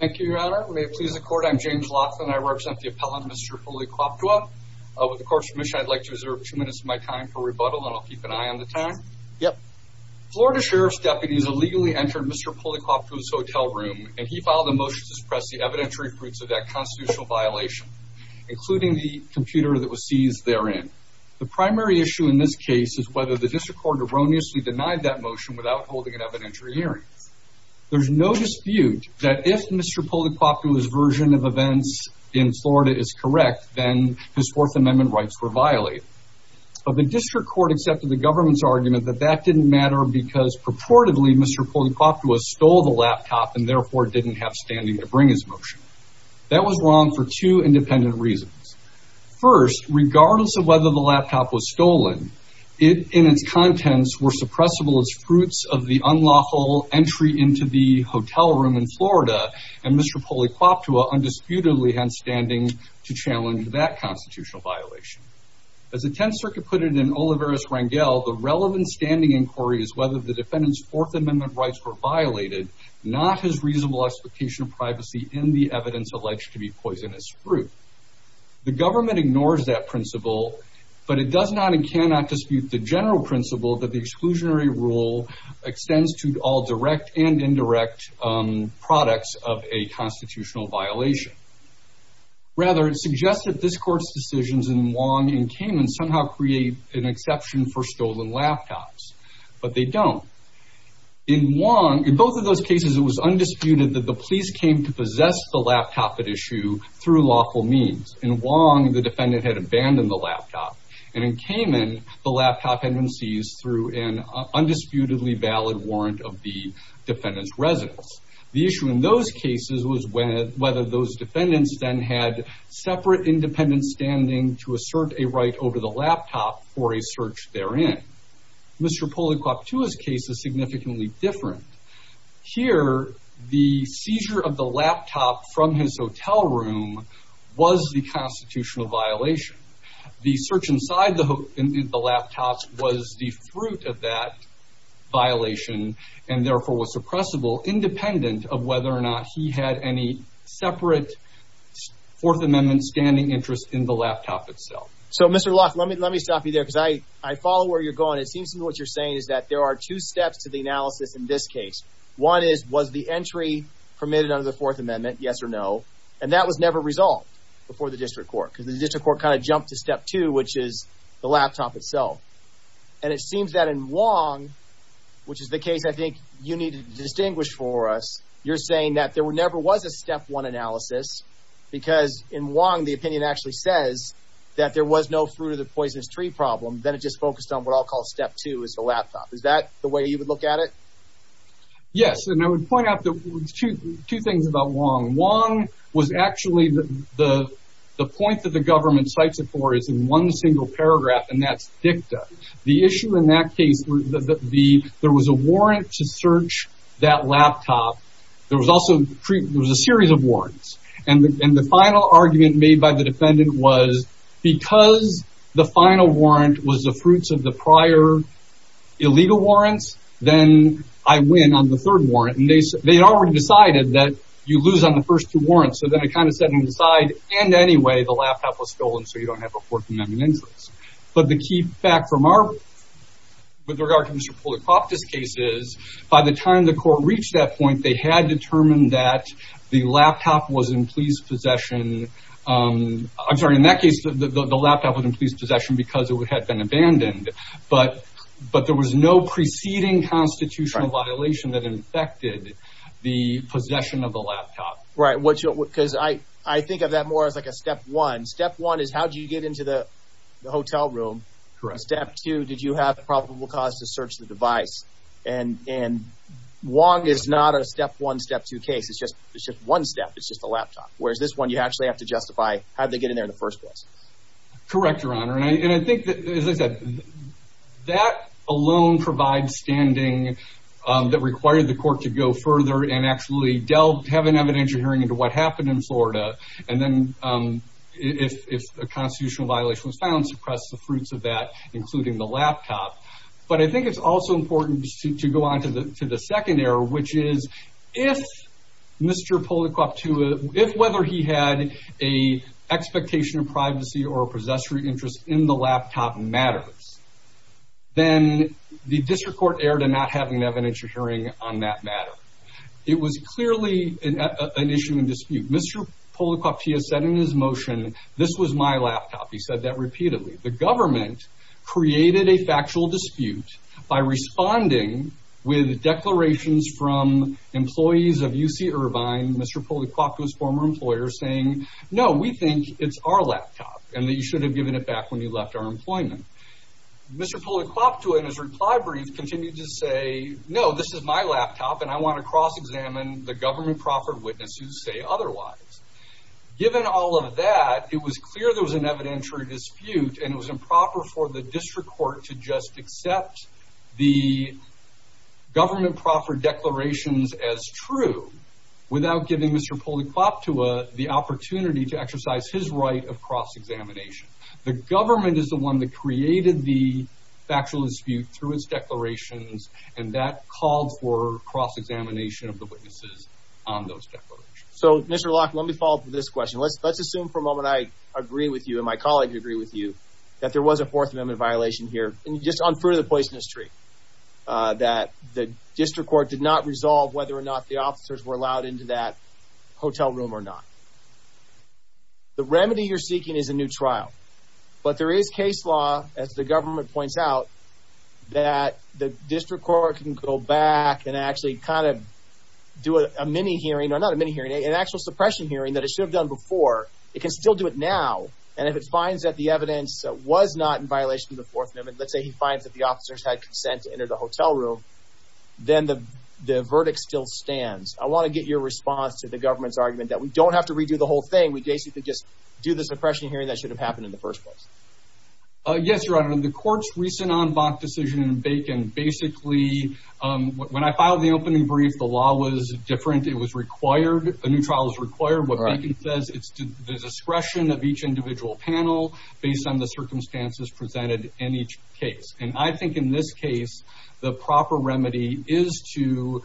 Thank you, Your Honor. May it please the Court, I'm James Lawson. I represent the appellant, Mr. Polequaptewa. With the Court's permission, I'd like to reserve two minutes of my time for rebuttal, and I'll keep an eye on the time. Florida Sheriff's deputies illegally entered Mr. Polequaptewa's hotel room, and he filed a motion to suppress the evidentiary fruits of that constitutional violation, including the computer that was seized therein. The primary issue in this case is whether the District Court erroneously denied that motion without holding an evidentiary hearing. There's no dispute that if Mr. Polequaptewa's version of events in Florida is correct, then his Fourth Amendment rights were violated. But the District Court accepted the government's argument that that didn't matter because, purportedly, Mr. Polequaptewa stole the laptop and therefore didn't have standing to bring his motion. That was wrong for two independent reasons. First, regardless of whether the laptop was stolen, it and its contents were suppressible as fruits of the unlawful entry into the hotel room in Florida, and Mr. Polequaptewa undisputedly had standing to challenge that constitutional violation. As the Tenth Circuit put it in Olivares-Rangel, the relevant standing inquiry is whether the defendant's Fourth Amendment rights were violated, not his reasonable expectation of privacy in the evidence alleged to be poisonous fruit. The government ignores that principle, but it does not and cannot dispute the general principle that the exclusionary rule extends to all direct and indirect products of a constitutional violation. Rather, it suggests that this Court's decisions in Wong and Kamen somehow create an exception for stolen laptops, but they don't. In Wong, in both of those cases, it was undisputed that the police came to possess the laptop at issue through lawful means. In Wong, the defendant had abandoned the laptop, and in Kamen, the laptop had been seized through an undisputedly valid warrant of the defendant's residence. The issue in those cases was whether those defendants then had separate independent standing to assert a right over the laptop for a search therein. Mr. Polequaptewa's case is significantly different. Here, the seizure of the laptop from his hotel room was the constitutional violation. The search inside the laptop was the fruit of that violation, and therefore was suppressible, independent of whether or not he had any separate Fourth Amendment standing interest in the laptop itself. So, Mr. Locke, let me stop you there, because I follow where you're going. It seems to me what you're saying is that there are two steps to the analysis in this case. One is, was the entry permitted under the Fourth Amendment, yes or no? And that was never resolved before the district court, because the district court kind of jumped to step two, which is the laptop itself. And it seems that in Wong, which is the case I think you need to distinguish for us, you're saying that there never was a step one analysis, because in Wong, the opinion actually says that there was no fruit of the poisonous tree problem. Then it just focused on what I'll call step two, is the laptop. Is that the way you would look at it? Yes, and I would point out two things about Wong. One was actually the point that the government cites it for is in one single paragraph, and that's dicta. The issue in that case, there was a warrant to search that laptop. There was also a series of warrants. And the final argument made by the defendant was, because the final warrant was the fruits of the prior illegal warrants, then I win on the third warrant. And they had already decided that you lose on the first two warrants. So then it kind of set them aside. And anyway, the laptop was stolen, so you don't have a Fourth Amendment interest. But the key fact with regard to Mr. Polacroft's case is, by the time the court reached that point, they had determined that the laptop was in police possession. I'm sorry, in that case, the laptop was in police possession because it had been abandoned. But there was no preceding constitutional violation that infected the possession of the laptop. Right, because I think of that more as like a step one. Step one is, how did you get into the hotel room? Correct. Step two, did you have probable cause to search the device? And Wong is not a step one, step two case. It's just one step. It's just a laptop. Whereas this one, you actually have to justify how they get in there in the first place. Correct, Your Honor. And I think, as I said, that alone provides standing that required the court to go further and actually have an evidentiary hearing into what happened in Florida. And then if a constitutional violation was found, suppress the fruits of that, including the laptop. But I think it's also important to go on to the second error, which is, if Mr. Poliquop, whether he had an expectation of privacy or a possessory interest in the laptop matters, then the district court erred in not having an evidentiary hearing on that matter. It was clearly an issue in dispute. Mr. Poliquop, he has said in his motion, this was my laptop. He said that repeatedly. The government created a factual dispute by responding with declarations from employees of UC Irvine, Mr. Poliquop was a former employer, saying, no, we think it's our laptop and that you should have given it back when you left our employment. Mr. Poliquop, in his reply brief, continued to say, no, this is my laptop, and I want to cross-examine the government proper witnesses who say otherwise. Given all of that, it was clear there was an evidentiary dispute, and it was improper for the district court to just accept the government proper declarations as true without giving Mr. Poliquop the opportunity to exercise his right of cross-examination. The government is the one that created the factual dispute through its declarations, and that called for cross-examination of the witnesses on those declarations. So, Mr. Locke, let me follow up with this question. Let's assume for a moment I agree with you and my colleagues agree with you that there was a Fourth Amendment violation here, just on fruit of the poisonous tree, that the district court did not resolve whether or not the officers were allowed into that hotel room or not. The remedy you're seeking is a new trial, but there is case law, as the government points out, that the district court can go back and actually kind of do a mini-hearing, or not a mini-hearing, an actual suppression hearing that it should have done before. It can still do it now, and if it finds that the evidence was not in violation of the Fourth Amendment, let's say he finds that the officers had consent to enter the hotel room, then the verdict still stands. I want to get your response to the government's argument that we don't have to redo the whole thing. We basically just do the suppression hearing that should have happened in the first place. Yes, Your Honor, the court's recent en banc decision in Bacon, basically, when I filed the opening brief, the law was different. It was required, a new trial was required. What Bacon says, it's the discretion of each individual panel based on the circumstances presented in each case. And I think in this case, the proper remedy is to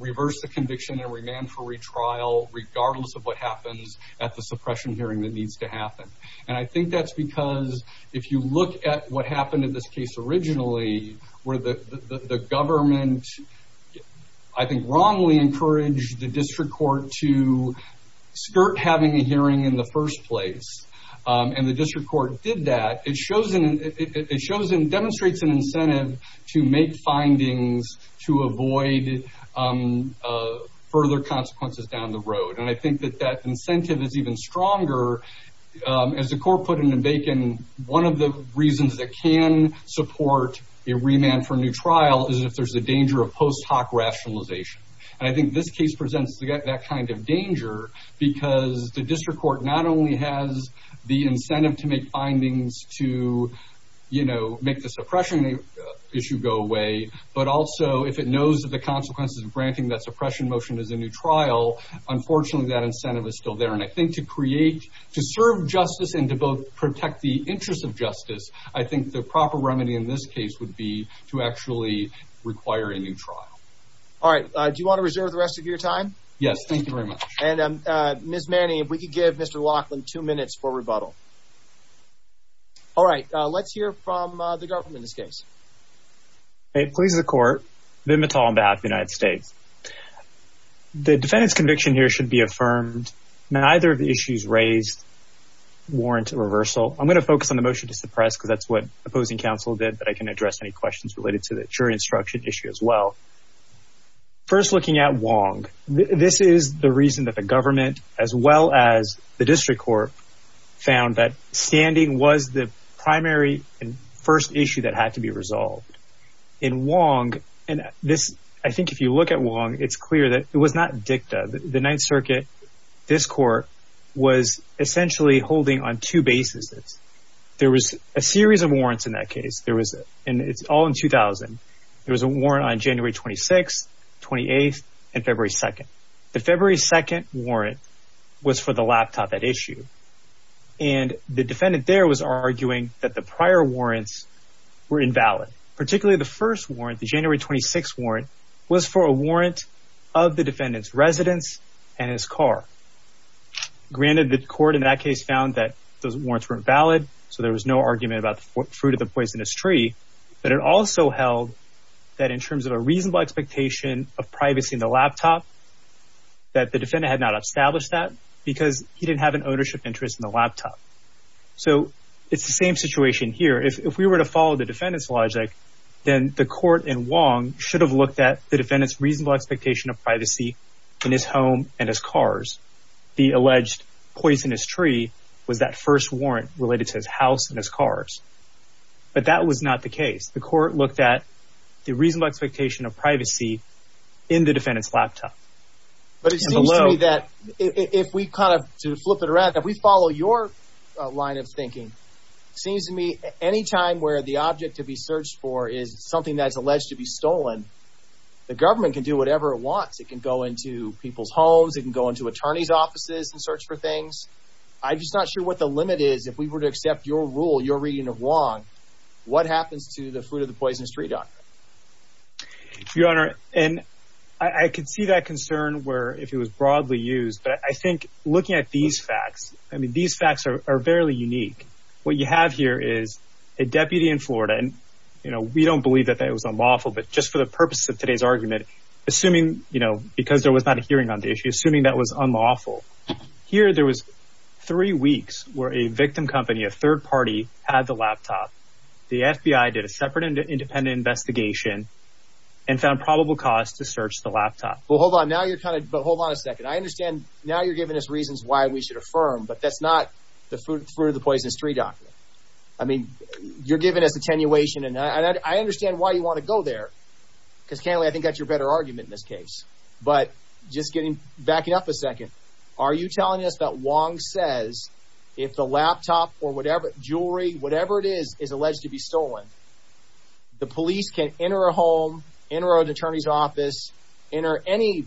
reverse the conviction and remand for retrial, regardless of what happens at the suppression hearing that needs to happen. And I think that's because if you look at what happened in this case originally, where the government, I think, wrongly encouraged the district court to skirt having a hearing in the first place, and the district court did that, it demonstrates an incentive to make findings to avoid further consequences down the road. And I think that that incentive is even stronger. As the court put it in Bacon, one of the reasons that can support a remand for a new trial is if there's a danger of post hoc rationalization. And I think this case presents that kind of danger because the district court not only has the incentive to make findings to, you know, make the suppression issue go away, but also if it knows that the consequences of granting that suppression motion is a new trial, unfortunately, that incentive is still there. And I think to create, to serve justice and to both protect the interests of justice, I think the proper remedy in this case would be to actually require a new trial. All right. Do you want to reserve the rest of your time? Yes. Thank you very much. And Ms. Manning, if we could give Mr. Laughlin two minutes for rebuttal. All right. Let's hear from the government in this case. It pleases the court, Ben Mattal on behalf of the United States. The defendant's conviction here should be affirmed. Neither of the issues raised warrant a reversal. I'm going to focus on the motion to suppress because that's what opposing counsel did, but I can address any questions related to the jury instruction issue as well. First, looking at Wong, this is the reason that the government, as well as the district court, found that standing was the primary and first issue that had to be resolved. In Wong, and this, I think if you look at Wong, it's clear that it was not dicta. The Ninth Circuit, this court, was essentially holding on two bases. There was a series of warrants in that case. There was, and it's all in 2000, there was a warrant on January 26th, 28th, and February 2nd. The February 2nd warrant was for the laptop at issue, and the defendant there was arguing that the prior warrants were invalid, particularly the first warrant, the January 26th warrant, was for a warrant of the defendant's residence and his car. Granted, the court in that case found that those warrants were invalid, so there was no argument about the fruit of the poisonous tree, but it also held that in terms of a reasonable expectation of privacy in the laptop, that the defendant had not established that because he didn't have an ownership interest in the laptop. So it's the same situation here. If we were to follow the defendant's logic, then the court in Wong should have looked at the defendant's reasonable expectation of privacy in his home and his cars. The alleged poisonous tree was that first warrant related to his house and his cars, but that was not the case. The court looked at the reasonable expectation of privacy in the defendant's laptop. But it seems to me that if we kind of flip it around, if we follow your line of thinking, it seems to me any time where the object to be searched for is something that's alleged to be stolen, the government can do whatever it wants. It can go into people's homes. It can go into attorneys' offices and search for things. I'm just not sure what the limit is. If we were to accept your rule, your reading of Wong, what happens to the fruit of the poisonous tree doctrine? Your Honor, and I could see that concern where if it was broadly used. But I think looking at these facts, I mean, these facts are very unique. What you have here is a deputy in Florida. And, you know, we don't believe that it was unlawful. But just for the purpose of today's argument, assuming, you know, because there was not a hearing on the issue, assuming that was unlawful, here there was three weeks where a victim company, a third party, had the laptop. The FBI did a separate independent investigation and found probable cause to search the laptop. Well, hold on. Now you're kind of—but hold on a second. I understand now you're giving us reasons why we should affirm. But that's not the fruit of the poisonous tree doctrine. I mean, you're giving us attenuation. And I understand why you want to go there because, Kennelly, I think that's your better argument in this case. But just getting—backing up a second. Are you telling us that Wong says if the laptop or whatever—jewelry, whatever it is, is alleged to be stolen, the police can enter a home, enter an attorney's office, enter any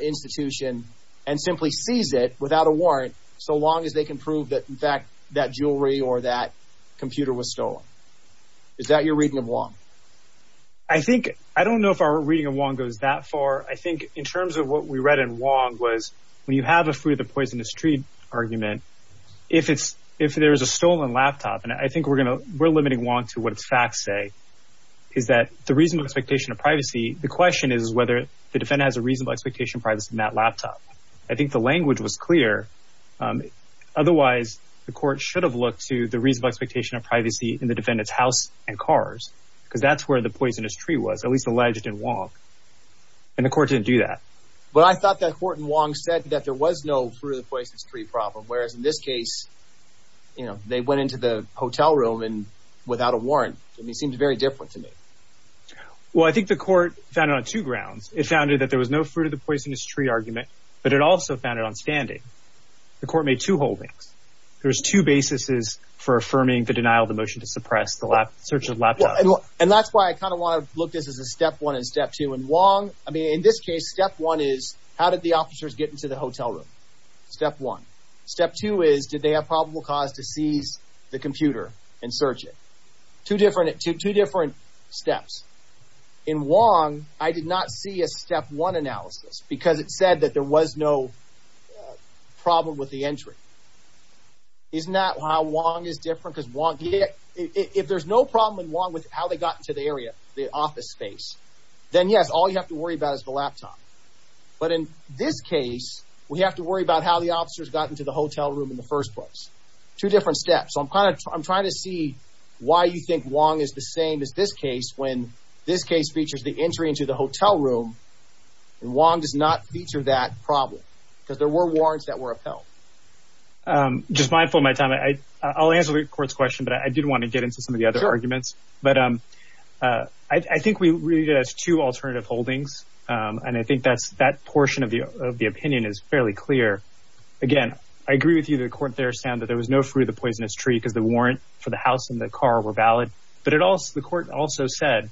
institution and simply seize it without a warrant so long as they can prove that, in fact, that jewelry or that computer was stolen? Is that your reading of Wong? I think—I don't know if our reading of Wong goes that far. I think in terms of what we read in Wong was when you have a fruit of the poisonous tree argument, if there is a stolen laptop—and I think we're limiting Wong to what facts say—is that the reasonable expectation of privacy, the question is whether the defendant has a reasonable expectation of privacy in that laptop. I think the language was clear. Otherwise, the court should have looked to the reasonable expectation of privacy in the defendant's house and cars because that's where the poisonous tree was, at least alleged in Wong. And the court didn't do that. But I thought that court in Wong said that there was no fruit of the poisonous tree problem, whereas in this case, you know, they went into the hotel room without a warrant. I mean, it seems very different to me. Well, I think the court found it on two grounds. It found it that there was no fruit of the poisonous tree argument, but it also found it on standing. The court made two holdings. There's two basis for affirming the denial of the motion to suppress the search of laptop. And that's why I kind of want to look at this as a step one and step two. In Wong—I mean, in this case, step one is how did the officers get into the hotel room? Step one. Step two is did they have probable cause to seize the computer and search it? Two different steps. In Wong, I did not see a step one analysis because it said that there was no problem with the entry. Isn't that how Wong is different? Because if there's no problem in Wong with how they got into the area, the office space, then, yes, all you have to worry about is the laptop. But in this case, we have to worry about how the officers got into the hotel room in the first place. Two different steps. So I'm kind of—I'm trying to see why you think Wong is the same as this case when this case features the entry into the hotel room and Wong does not feature that problem because there were warrants that were upheld. Just mindful of my time. I'll answer the court's question, but I did want to get into some of the other arguments. But I think we read it as two alternative holdings, and I think that portion of the opinion is fairly clear. Again, I agree with you that the court there found that there was no fruit of the poisonous tree because the warrant for the house and the car were valid. But the court also said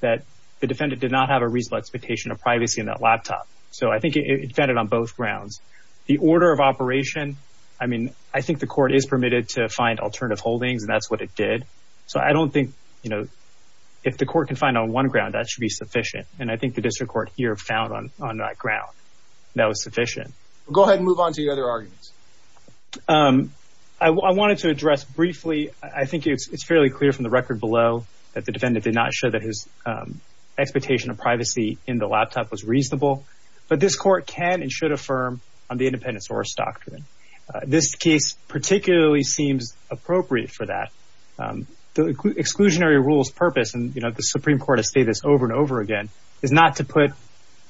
that the defendant did not have a reasonable expectation of privacy in that laptop. So I think it defended on both grounds. The order of operation, I mean, I think the court is permitted to find alternative holdings, and that's what it did. So I don't think, you know, if the court can find on one ground, that should be sufficient. And I think the district court here found on that ground that was sufficient. Go ahead and move on to the other arguments. I wanted to address briefly, I think it's fairly clear from the record below, that the defendant did not show that his expectation of privacy in the laptop was reasonable. But this court can and should affirm on the independence horse doctrine. This case particularly seems appropriate for that. The exclusionary rules purpose, and the Supreme Court has stated this over and over again, is not to put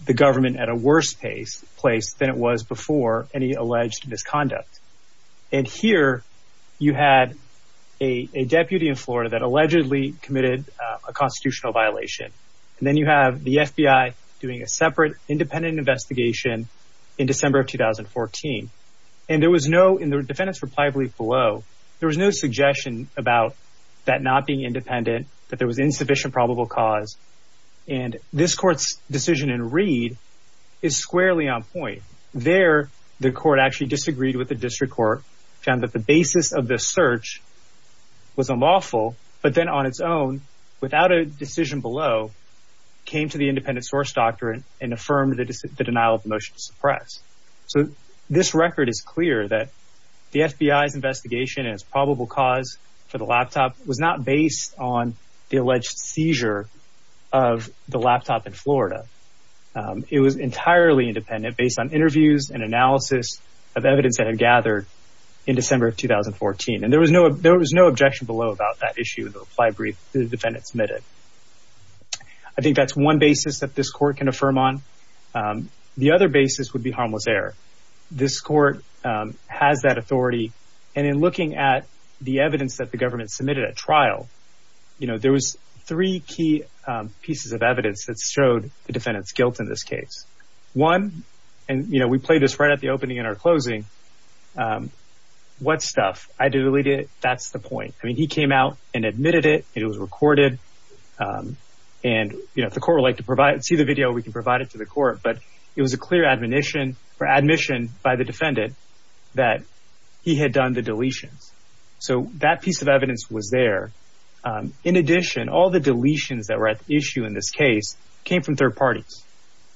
the government at a worse place than it was before any alleged misconduct. And here you had a deputy in Florida that allegedly committed a constitutional violation. And then you have the FBI doing a separate independent investigation in December of 2014. And there was no, in the defendant's reply brief below, there was no suggestion about that not being independent, that there was insufficient probable cause. And this court's decision in Reed is squarely on point. There, the court actually disagreed with the district court, found that the basis of this search was unlawful, but then on its own, without a decision below, came to the independence horse doctrine and affirmed the denial of the motion to suppress. So this record is clear that the FBI's investigation and its probable cause for the laptop was not based on the alleged seizure of the laptop in Florida. It was entirely independent based on interviews and analysis of evidence that had gathered in December of 2014. And there was no objection below about that issue in the reply brief that the defendant submitted. I think that's one basis that this court can affirm on. The other basis would be harmless error. This court has that authority. And in looking at the evidence that the government submitted at trial, there was three key pieces of evidence that showed the defendant's guilt in this case. One, and we played this right at the opening and our closing, what stuff? I deleted it. That's the point. I mean, he came out and admitted it. It was recorded. And if the court would like to see the video, we can provide it to the court. But it was a clear admission by the defendant that he had done the deletions. So that piece of evidence was there. In addition, all the deletions that were at issue in this case came from third parties.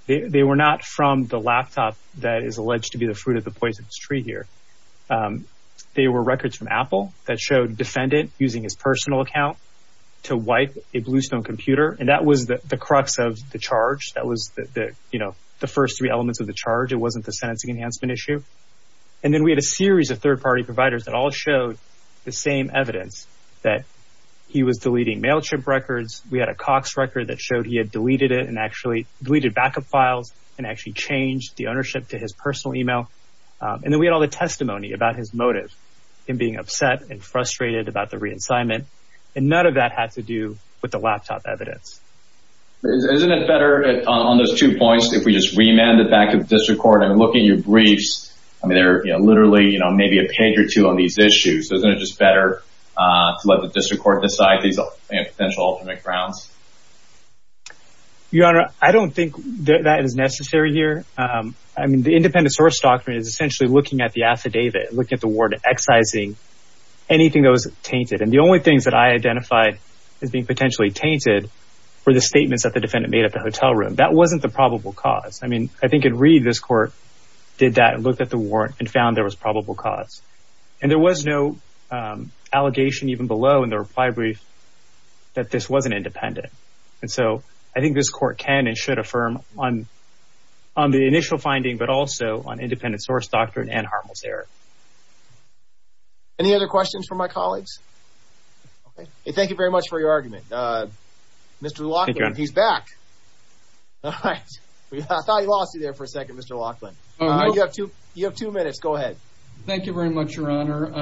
They were not from the laptop that is alleged to be the fruit of the poisonous tree here. They were records from Apple that showed defendant using his personal account to wipe a Bluestone computer. And that was the crux of the charge. That was the first three elements of the charge. It wasn't the sentencing enhancement issue. And then we had a series of third-party providers that all showed the same evidence that he was deleting MailChimp records. We had a Cox record that showed he had deleted it and actually deleted backup files and actually changed the ownership to his personal email. And then we had all the testimony about his motive, him being upset and frustrated about the re-assignment. And none of that had to do with the laptop evidence. Isn't it better on those two points if we just remand it back to the district court and look at your briefs? I mean, they're literally maybe a page or two on these issues. Isn't it just better to let the district court decide these potential ultimate grounds? Your Honor, I don't think that is necessary here. I mean, the independent source doctrine is essentially looking at the affidavit, looking at the warrant, excising anything that was tainted. And the only things that I identified as being potentially tainted were the statements that the defendant made at the hotel room. That wasn't the probable cause. I mean, I think in Reed, this court did that and looked at the warrant and found there was probable cause. And there was no allegation even below in the reply brief that this wasn't independent. And so I think this court can and should affirm on the initial finding but also on independent source doctrine and Harmel's error. Any other questions from my colleagues? Okay. Thank you very much for your argument. Mr. Laughlin, he's back. All right. I thought I lost you there for a second, Mr. Laughlin. You have two minutes. Go ahead. Thank you very much, Your Honor.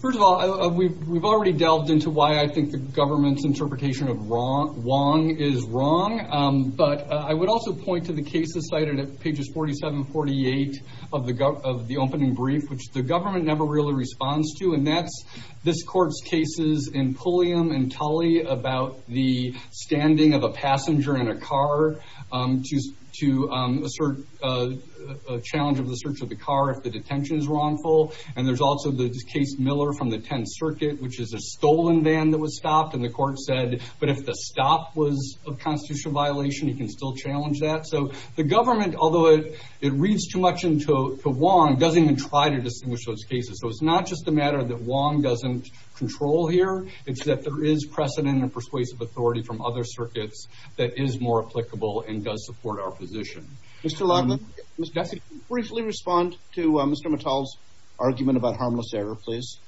First of all, we've already delved into why I think the government's interpretation of Wong is wrong. But I would also point to the cases cited at pages 47 and 48 of the opening brief, which the government never really responds to, and that's this court's cases in Pulliam and Tully about the standing of a passenger in a car to assert a challenge of the search of the car if the detention is wrongful. And there's also the case Miller from the 10th Circuit, which is a stolen van that was stopped, and the court said, but if the stop was a constitutional violation, you can still challenge that. So the government, although it reads too much into Wong, doesn't even try to distinguish those cases. So it's not just a matter that Wong doesn't control here. It's that there is precedent and persuasive authority from other circuits that is more applicable and does support our position. Mr. Longman, briefly respond to Mr. Mattall's argument about harmless error, please.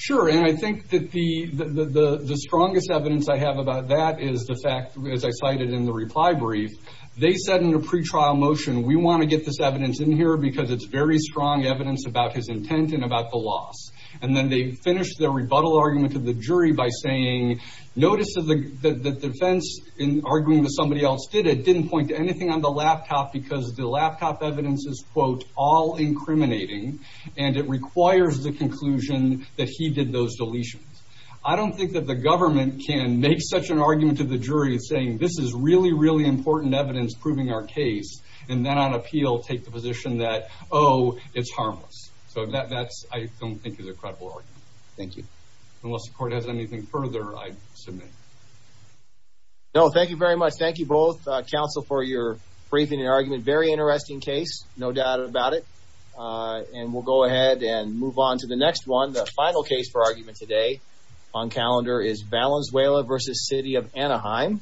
Sure, and I think that the strongest evidence I have about that is the fact, as I cited in the reply brief, they said in the pretrial motion, we want to get this evidence in here because it's very strong evidence about his intent and about the loss. And then they finished their rebuttal argument to the jury by saying, notice that the defense in arguing that somebody else did it didn't point to anything on the laptop because the laptop evidence is, quote, all incriminating, and it requires the conclusion that he did those deletions. I don't think that the government can make such an argument to the jury saying, this is really, really important evidence proving our case, and then on appeal take the position that, oh, it's harmless. So that I don't think is a credible argument. Thank you. Unless the court has anything further, I submit. No, thank you very much. Thank you both, counsel, for your briefing and argument. Very interesting case, no doubt about it. And we'll go ahead and move on to the next one. The final case for argument today on calendar is Valenzuela v. City of Anaheim.